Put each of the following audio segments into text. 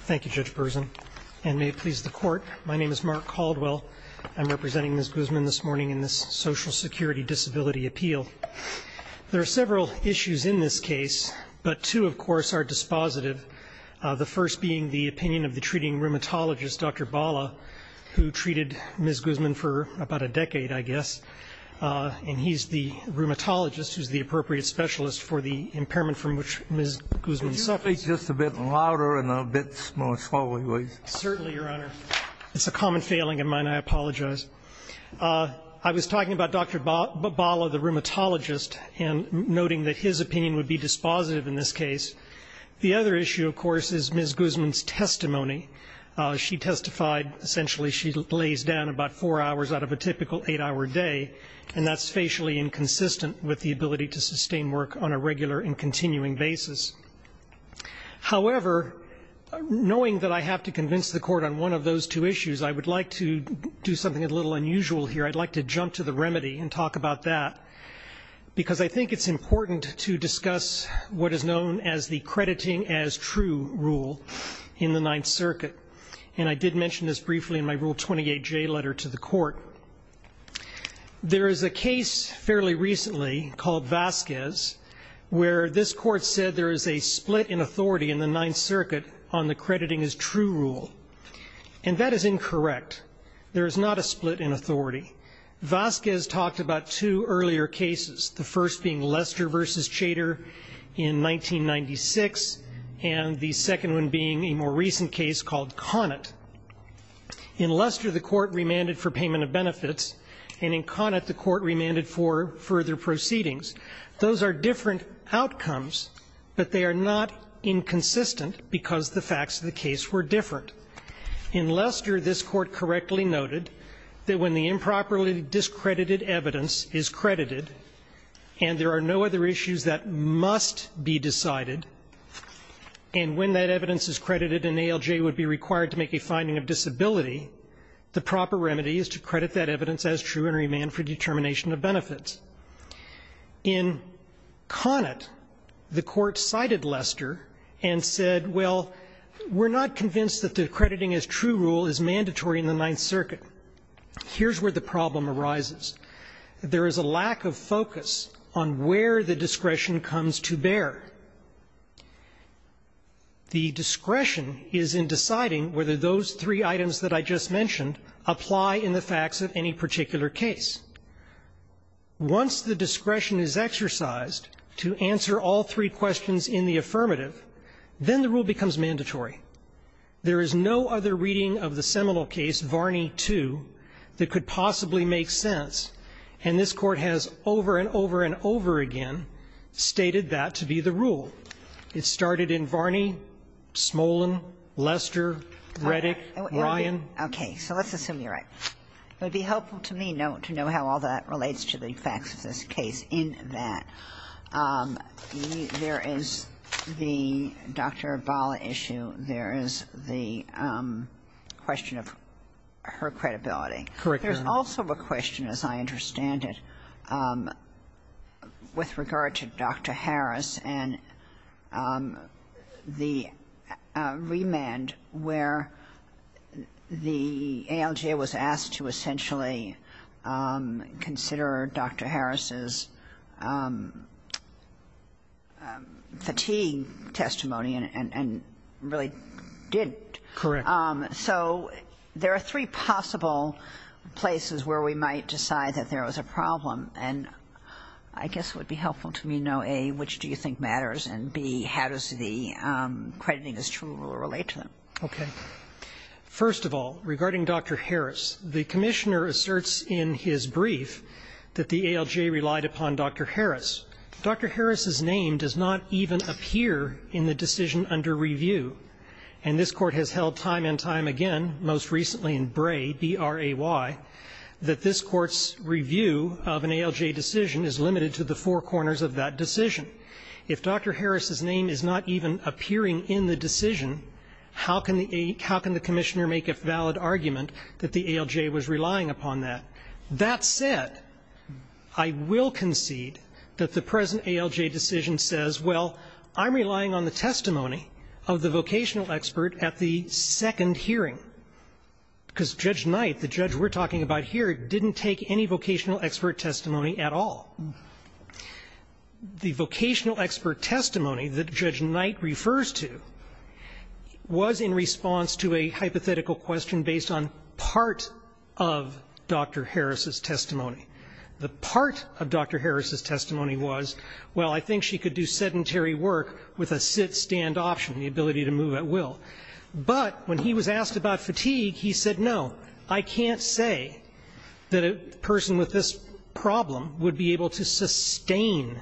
Thank you, Judge Burson, and may it please the Court, my name is Mark Caldwell. I'm representing Ms. Guzman this morning in this Social Security Disability Appeal. There are several issues in this case, but two, of course, are dispositive, the first being the opinion of the treating rheumatologist, Dr. Bala, who treated Ms. Guzman for about a decade, I guess, and he's the rheumatologist who's the appropriate specialist for the impairment from which Ms. Guzman suffers. Could you speak just a bit louder and a bit more slowly, please? Certainly, Your Honor. It's a common failing of mine. I apologize. I was talking about Dr. Bala, the rheumatologist, and noting that his opinion would be dispositive in this case. The other issue, of course, is Ms. Guzman's testimony. She testified essentially she lays down about four hours out of a typical eight-hour day, and that's facially inconsistent with the ability to sustain work on a regular and continuing basis. However, knowing that I have to convince the Court on one of those two issues, I would like to do something a little unusual here. I'd like to jump to the remedy and talk about that, because I think it's important to discuss what is known as the crediting as true rule in the Ninth Circuit, and I did mention this briefly in my Rule 28J letter to the Court. There is a case fairly recently called Vasquez, where this Court said there is a split in authority in the Ninth Circuit on the crediting as true rule, and that is incorrect. There is not a split in authority. Vasquez talked about two earlier cases, the first being Lester v. Chater in 1996, and the second one being a more recent case called Conant. In Lester, the Court remanded for payment of benefits, and in Conant, the Court remanded for further proceedings. Those are different outcomes, but they are not inconsistent because the facts of the case were different. In Lester, this Court correctly noted that when the improperly discredited evidence is credited and there are no other issues that must be decided, and when that evidence is credited and ALJ would be required to make a finding of disability, the proper remedy is to credit that evidence as true and remand for determination of benefits. In Conant, the Court cited Lester and said, well, we're not convinced that the crediting as true rule is mandatory in the Ninth Circuit. Here's where the problem arises. There is a lack of focus on where the discretion comes to bear. The discretion is in deciding whether those three items that I just mentioned apply in the facts of any particular case. Once the discretion is exercised to answer all three questions in the affirmative, then the rule becomes mandatory. There is no other reading of the seminal case, Varney 2, that could possibly make sense, and this Court has over and over and over again stated that to be the rule. It started in Varney, Smolin, Lester, Reddick, Ryan. Okay. So let's assume you're right. It would be helpful to me to know how all that relates to the facts of this case in that there is the Dr. Bala issue, there is the question of her credibility. Correct, Your Honor. There's also a question, as I understand it, with regard to Dr. Harris and the remand where the ALJ was asked to essentially consider Dr. Harris. Correct. So there are three possible places where we might decide that there was a problem, and I guess it would be helpful to me to know, A, which do you think matters, and, B, how does the crediting as true relate to them? Okay. First of all, regarding Dr. Harris, the Commissioner asserts in his brief that the ALJ relied upon Dr. Harris. Dr. Harris's name does not even appear in the decision under review. And this Court has held time and time again, most recently in Bray, B-R-A-Y, that this Court's review of an ALJ decision is limited to the four corners of that decision. If Dr. Harris's name is not even appearing in the decision, how can the Commissioner make a valid argument that the ALJ was relying upon that? That said, I will concede that the present ALJ decision says, well, I'm relying on the testimony of the vocational expert at the second hearing, because Judge Knight, the judge we're talking about here, didn't take any vocational expert testimony at all. The vocational expert testimony that Judge Knight refers to was in response to a testimony. The part of Dr. Harris's testimony was, well, I think she could do sedentary work with a sit-stand option, the ability to move at will. But when he was asked about fatigue, he said, no, I can't say that a person with this problem would be able to sustain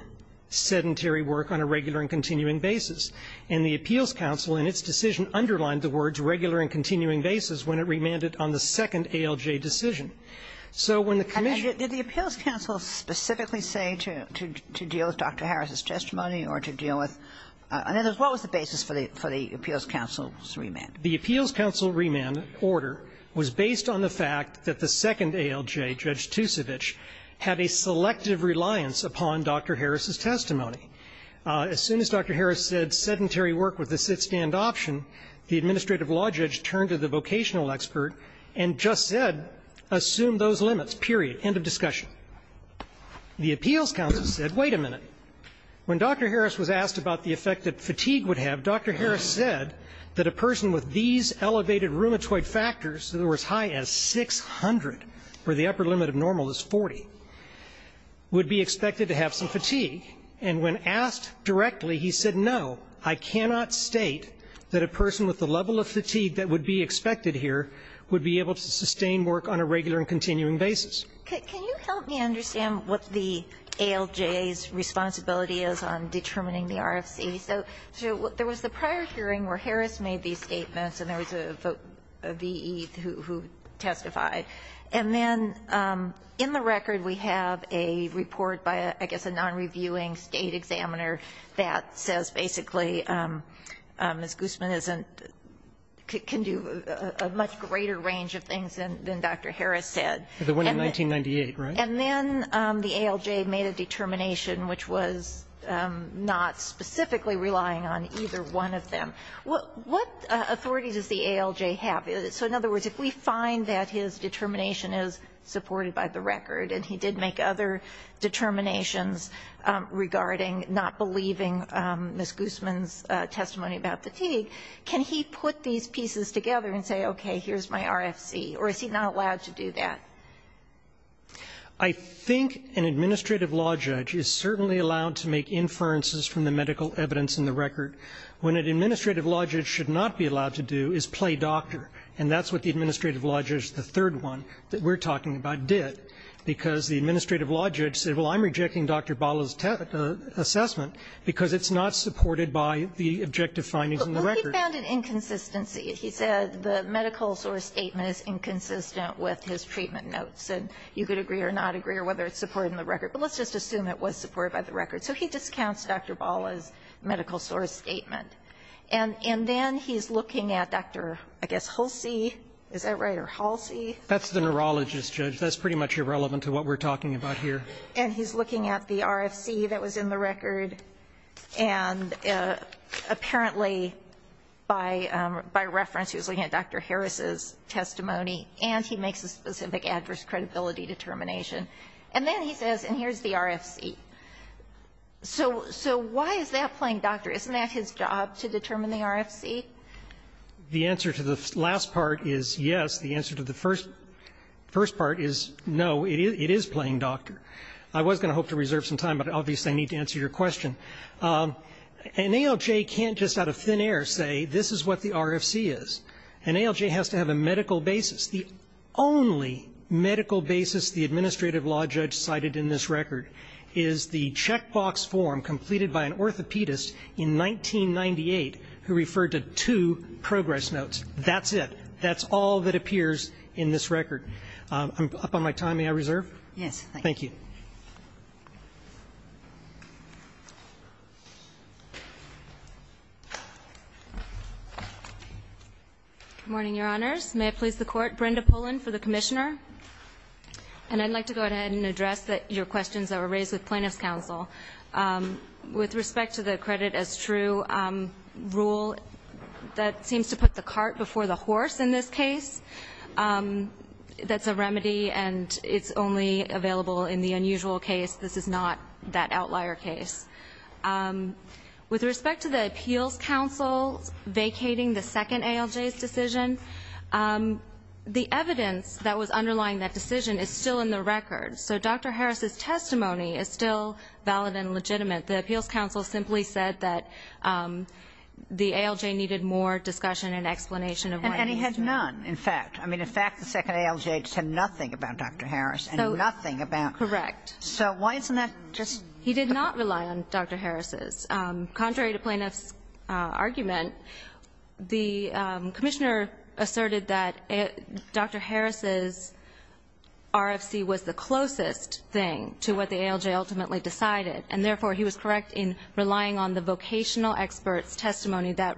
sedentary work on a regular and continuing basis. And the Appeals Council in its decision underlined the words regular and continuing basis when it remanded on the second ALJ decision. So when the Commission ---- And did the Appeals Council specifically say to deal with Dr. Harris's testimony or to deal with ---- I mean, what was the basis for the Appeals Council's remand? The Appeals Council remand order was based on the fact that the second ALJ, Judge Tusevich, had a selective reliance upon Dr. Harris's testimony. As soon as Dr. Harris said sedentary work with a sit-stand option, the administrative law judge turned to the vocational expert and just said, assume those limits, period. End of discussion. The Appeals Council said, wait a minute. When Dr. Harris was asked about the effect that fatigue would have, Dr. Harris said that a person with these elevated rheumatoid factors that were as high as 600, where the upper limit of normal is 40, would be expected to have some fatigue. And when asked directly, he said, no, I cannot state that a person with the level of fatigue that would be expected here would be able to sustain work on a regular and continuing basis. Can you help me understand what the ALJ's responsibility is on determining the RFC? So there was the prior hearing where Harris made these statements and there was a V.E. who testified. And then in the record we have a report by, I guess, a non-reviewing State examiner that says basically Ms. Guzman isn't, can do a much greater range of things than Dr. Harris said. And then the ALJ made a determination which was not specifically relying on either one of them. What authority does the ALJ have? So in other words, if we find that his determination is supported by the record and he did make other determinations regarding not believing Ms. Guzman's testimony about fatigue, can he put these pieces together and say, okay, here's my RFC? Or is he not allowed to do that? I think an administrative law judge is certainly allowed to make inferences from the medical evidence in the record. What an administrative law judge should not be allowed to do is play doctor. And that's what the administrative law judge, the third one that we're talking about, did, because the administrative law judge said, well, I'm rejecting Dr. Bala's assessment because it's not supported by the objective findings in the record. Well, he found an inconsistency. He said the medical source statement is inconsistent with his treatment notes, and you could agree or not agree or whether it's supported in the record. But let's just assume it was supported by the record. So he discounts Dr. Bala's medical source statement. And then he's looking at Dr., I guess, Halsey. Is that right? Or Halsey? That's the neurologist, Judge. That's pretty much irrelevant to what we're talking about here. And he's looking at the RFC that was in the record. And apparently, by reference, he was looking at Dr. Harris's testimony, and he makes a specific adverse credibility determination. And then he says, and here's the RFC. So why is that playing doctor? Isn't that his job, to determine the RFC? The answer to the last part is yes. The answer to the first part is no. It is playing doctor. I was going to hope to reserve some time, but obviously I need to answer your question. An ALJ can't just out of thin air say this is what the RFC is. An ALJ has to have a medical basis. The only medical basis the administrative law judge cited in this record is the checkbox form completed by an orthopedist in 1998 who referred to two progress notes. That's it. That's all that appears in this record. I'm up on my time. May I reserve? Yes, thank you. Thank you. Good morning, Your Honors. May I please the Court? Brenda Pullen for the Commissioner. And I'd like to go ahead and address your questions that were raised with Plaintiffs' Appeals Council. With respect to the credit as true rule, that seems to put the cart before the horse in this case. That's a remedy, and it's only available in the unusual case. This is not that outlier case. With respect to the Appeals Council vacating the second ALJ's decision, the evidence that was underlying that decision is still in the record. So Dr. Harris's testimony is still valid and legitimate. The Appeals Council simply said that the ALJ needed more discussion and explanation of why it was there. And he had none, in fact. I mean, in fact, the second ALJ said nothing about Dr. Harris and nothing about Correct. So why isn't that just? He did not rely on Dr. Harris's. Contrary to Plaintiffs' argument, the Commissioner asserted that Dr. Harris's was the closest thing to what the ALJ ultimately decided. And therefore, he was correct in relying on the vocational expert's testimony that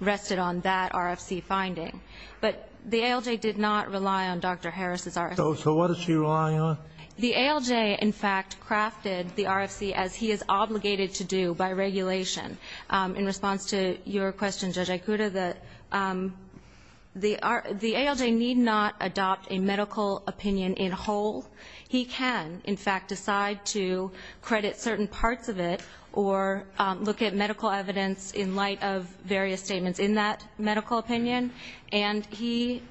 rested on that RFC finding. But the ALJ did not rely on Dr. Harris's RFC. So what is she relying on? The ALJ, in fact, crafted the RFC as he is obligated to do by regulation. In response to your question, Judge Aicuda, the ALJ need not adopt a medical opinion in whole. He can, in fact, decide to credit certain parts of it or look at medical evidence in light of various statements in that medical opinion. And he,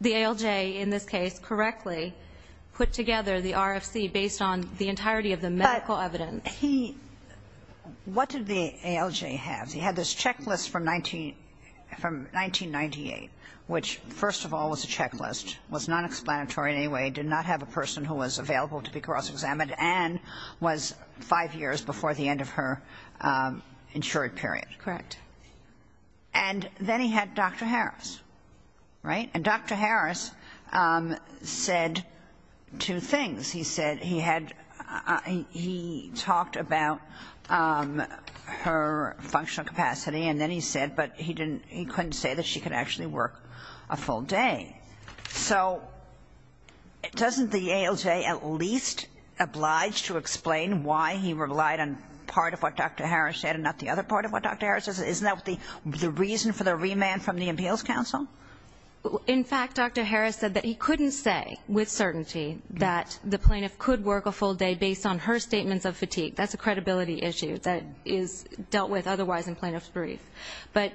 the ALJ, in this case, correctly put together the RFC based on the entirety of the medical evidence. But he what did the ALJ have? He had this checklist from 1998, which, first of all, was a checklist, was not a medical explanatory in any way, did not have a person who was available to be cross-examined, and was five years before the end of her insured period. Correct. And then he had Dr. Harris, right? And Dr. Harris said two things. He said he had, he talked about her functional capacity, and then he said, but he couldn't say that she could actually work a full day. So doesn't the ALJ at least oblige to explain why he relied on part of what Dr. Harris said and not the other part of what Dr. Harris said? Isn't that the reason for the remand from the Appeals Council? In fact, Dr. Harris said that he couldn't say with certainty that the plaintiff could work a full day based on her statements of fatigue. That's a credibility issue that is dealt with otherwise in plaintiff's brief. But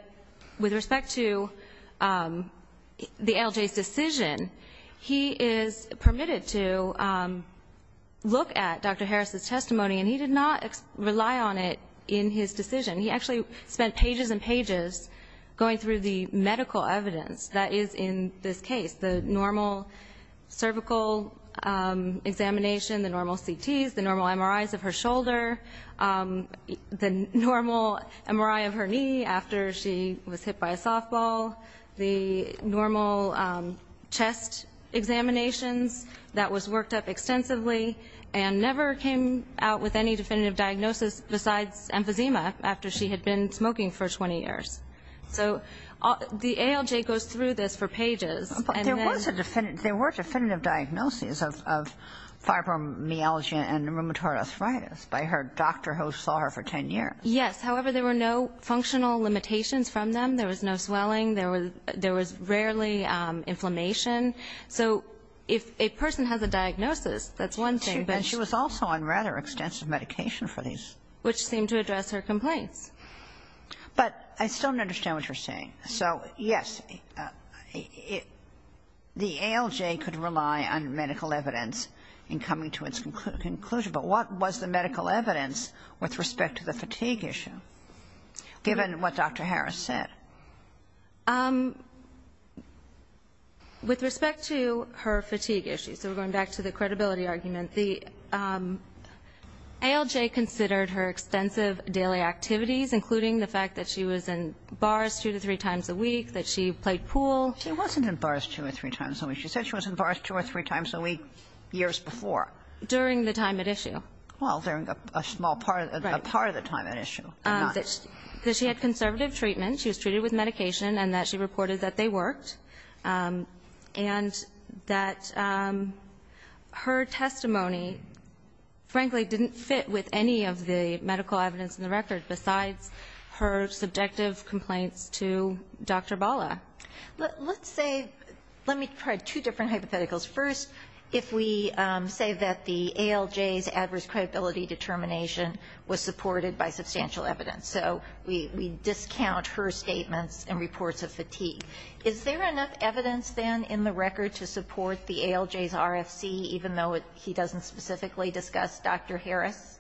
with respect to the ALJ's decision, he is permitted to look at Dr. Harris's testimony, and he did not rely on it in his decision. He actually spent pages and pages going through the medical evidence that is in this case, the normal cervical examination, the normal CTs, the normal MRIs of her after she was hit by a softball, the normal chest examinations that was worked up extensively and never came out with any definitive diagnosis besides emphysema after she had been smoking for 20 years. So the ALJ goes through this for pages. But there was a definitive, there were definitive diagnoses of fibromyalgia and rheumatoid arthritis by her doctor who saw her for 10 years. Yes. However, there were no functional limitations from them. There was no swelling. There was rarely inflammation. So if a person has a diagnosis, that's one thing. But she was also on rather extensive medication for these. Which seemed to address her complaints. But I still don't understand what you're saying. So, yes, the ALJ could rely on medical evidence in coming to its conclusion. But what was the medical evidence with respect to the fatigue issue, given what Dr. Harris said? With respect to her fatigue issues, so we're going back to the credibility argument, the ALJ considered her extensive daily activities, including the fact that she was in bars two to three times a week, that she played pool. She wasn't in bars two or three times a week. She said she was in bars two or three times a week years before. During the time at issue. Well, during a small part of the time at issue. Right. That she had conservative treatment. She was treated with medication and that she reported that they worked. And that her testimony, frankly, didn't fit with any of the medical evidence in the record besides her subjective complaints to Dr. Bala. Let's say, let me try two different hypotheticals. First, if we say that the ALJ's adverse credibility determination was supported by substantial evidence. So we discount her statements and reports of fatigue. Is there enough evidence, then, in the record to support the ALJ's RFC, even though he doesn't specifically discuss Dr. Harris?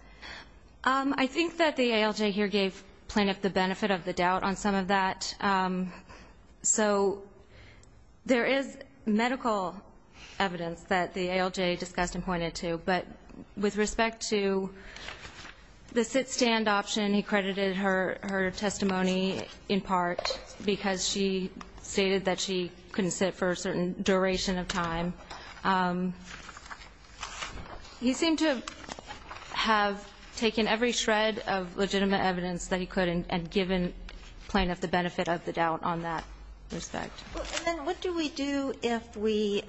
I think that the ALJ here gave plaintiff the benefit of the doubt on some of that. So there is medical evidence that the ALJ discussed and pointed to. But with respect to the sit-stand option, he credited her testimony in part because she stated that she couldn't sit for a certain duration of time. He seemed to have taken every shred of legitimate evidence that he could and given plaintiff the benefit of the doubt on that respect. And then what do we do if we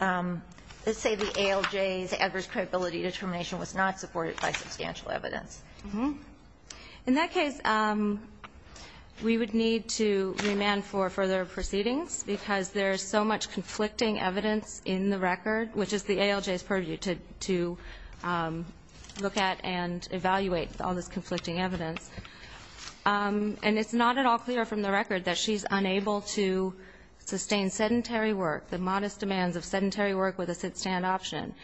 say the ALJ's adverse credibility determination was not supported by substantial evidence? In that case, we would need to remand for further proceedings because there is so much conflicting evidence in the record, which is the ALJ's purview to look at and evaluate all this conflicting evidence. And it's not at all clear from the record that she's unable to sustain sedentary work, the modest demands of sedentary work with a sit-stand option.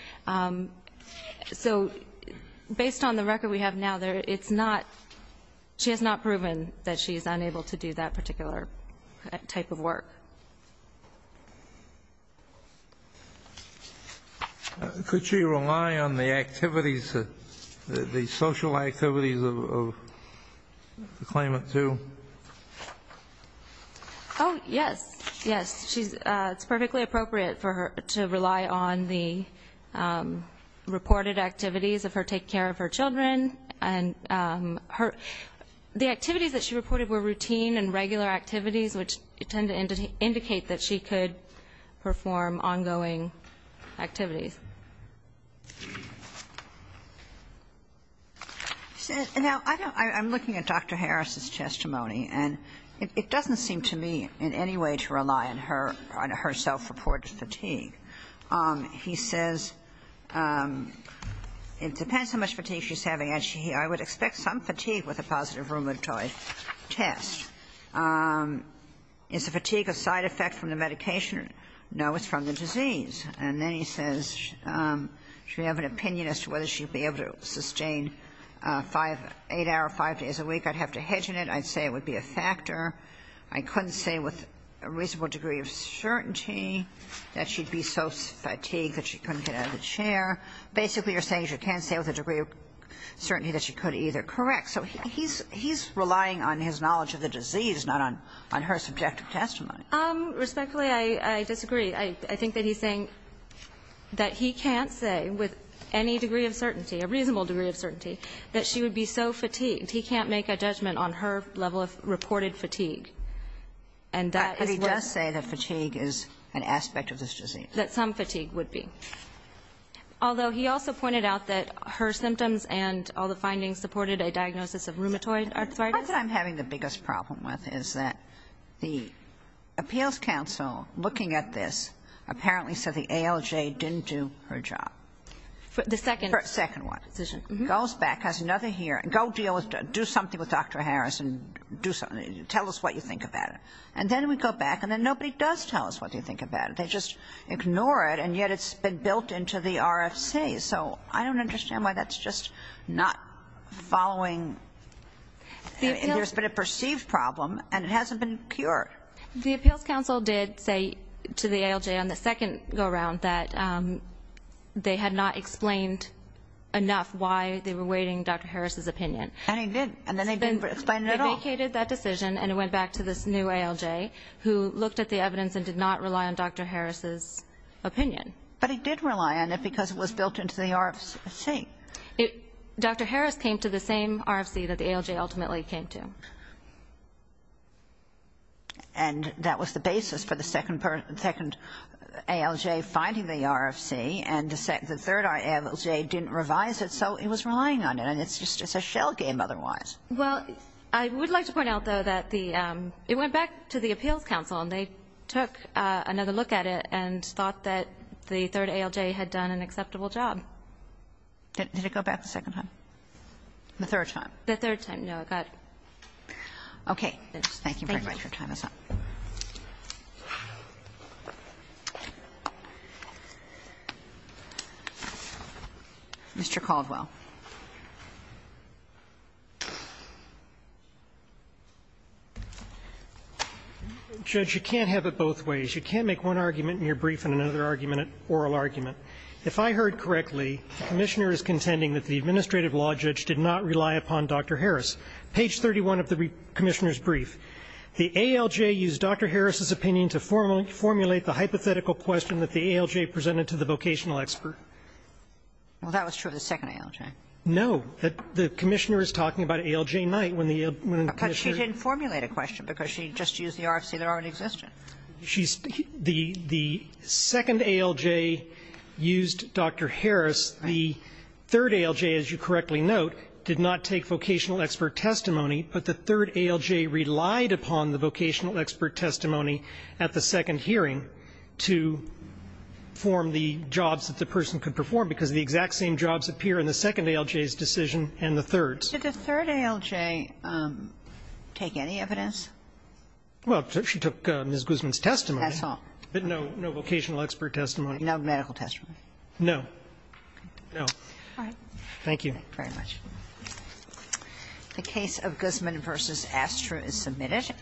So based on the record we have now, she has not proven that she is unable to do that particular type of work. Could she rely on the activities, the social activities of the claimant too? Oh, yes. Yes, it's perfectly appropriate for her to rely on the reported activities of her taking care of her children. The activities that she reported were routine and regular activities, which tend to indicate that she could perform ongoing activities. Now, I'm looking at Dr. Harris's testimony, and it doesn't seem to me in any way to rely on her self-reported fatigue. He says it depends how much fatigue she's having. Actually, I would expect some fatigue with a positive rheumatoid test. Is the fatigue a side effect from the medication? No, it's from the disease. And then he says she would have an opinion as to whether she would be able to sustain eight hours, five days a week. I'd have to hedge in it. I'd say it would be a factor. I couldn't say with a reasonable degree of certainty that she'd be so fatigued that she couldn't get out of the chair. Basically, you're saying she can't say with a degree of certainty that she could either. Correct. So he's relying on his knowledge of the disease, not on her subjective testimony. Respectfully, I disagree. I think that he's saying that he can't say with any degree of certainty, a reasonable degree of certainty, that she would be so fatigued. He can't make a judgment on her level of reported fatigue. And that is what. But he does say that fatigue is an aspect of this disease. That some fatigue would be. Although he also pointed out that her symptoms and all the findings supported a diagnosis of rheumatoid arthritis. The part that I'm having the biggest problem with is that the appeals counsel looking at this apparently said the ALJ didn't do her job. The second. The second one. Decision goes back has another here and go deal with do something with Dr. Harris and do something. Tell us what you think about it. And then we go back and then nobody does tell us what they think about it. They just ignore it. And yet it's been built into the RFC. So I don't understand why that's just not following. There's been a perceived problem and it hasn't been cured. The appeals counsel did say to the ALJ on the second go around that they had not explained enough why they were waiting Dr. Harris's opinion. And he did. And then they didn't explain it at all. They vacated that decision and it went back to this new ALJ who looked at the evidence and did not rely on Dr. Harris's opinion. But he did rely on it because it was built into the RFC. Dr. Harris came to the same RFC that the ALJ ultimately came to. And that was the basis for the second ALJ finding the RFC. And the third ALJ didn't revise it, so it was relying on it. And it's just a shell game otherwise. Well, I would like to point out, though, that the ‑‑ it went back to the appeals counsel and they took another look at it and thought that the third ALJ had done an acceptable job. Did it go back the second time? The third time. The third time. No, it got ‑‑ Okay. Thank you very much. Your time is up. Mr. Caldwell. Judge, you can't have it both ways. You can't make one argument in your brief and another argument an oral argument. If I heard correctly, the commissioner is contending that the administrative law judge did not rely upon Dr. Harris. Page 31 of the commissioner's brief. The ALJ used Dr. Harris's opinion to formulate the hypothetical question that the ALJ presented to the vocational expert. Well, that was true of the second ALJ. No. The commissioner is talking about ALJ night when the ‑‑ But she didn't formulate a question because she just used the RFC that already existed. She's ‑‑ the second ALJ used Dr. Harris. The third ALJ, as you correctly note, did not take vocational expert testimony, but the third ALJ relied upon the vocational expert testimony at the second hearing to form the jobs that the person could perform because the exact same jobs appear in the second ALJ's decision and the third's. Did the third ALJ take any evidence? Well, she took Ms. Guzman's testimony. That's all. But no, no vocational expert testimony. No medical testimony. No. No. All right. Thank you. Thank you very much. The case of Guzman v. Astra is submitted.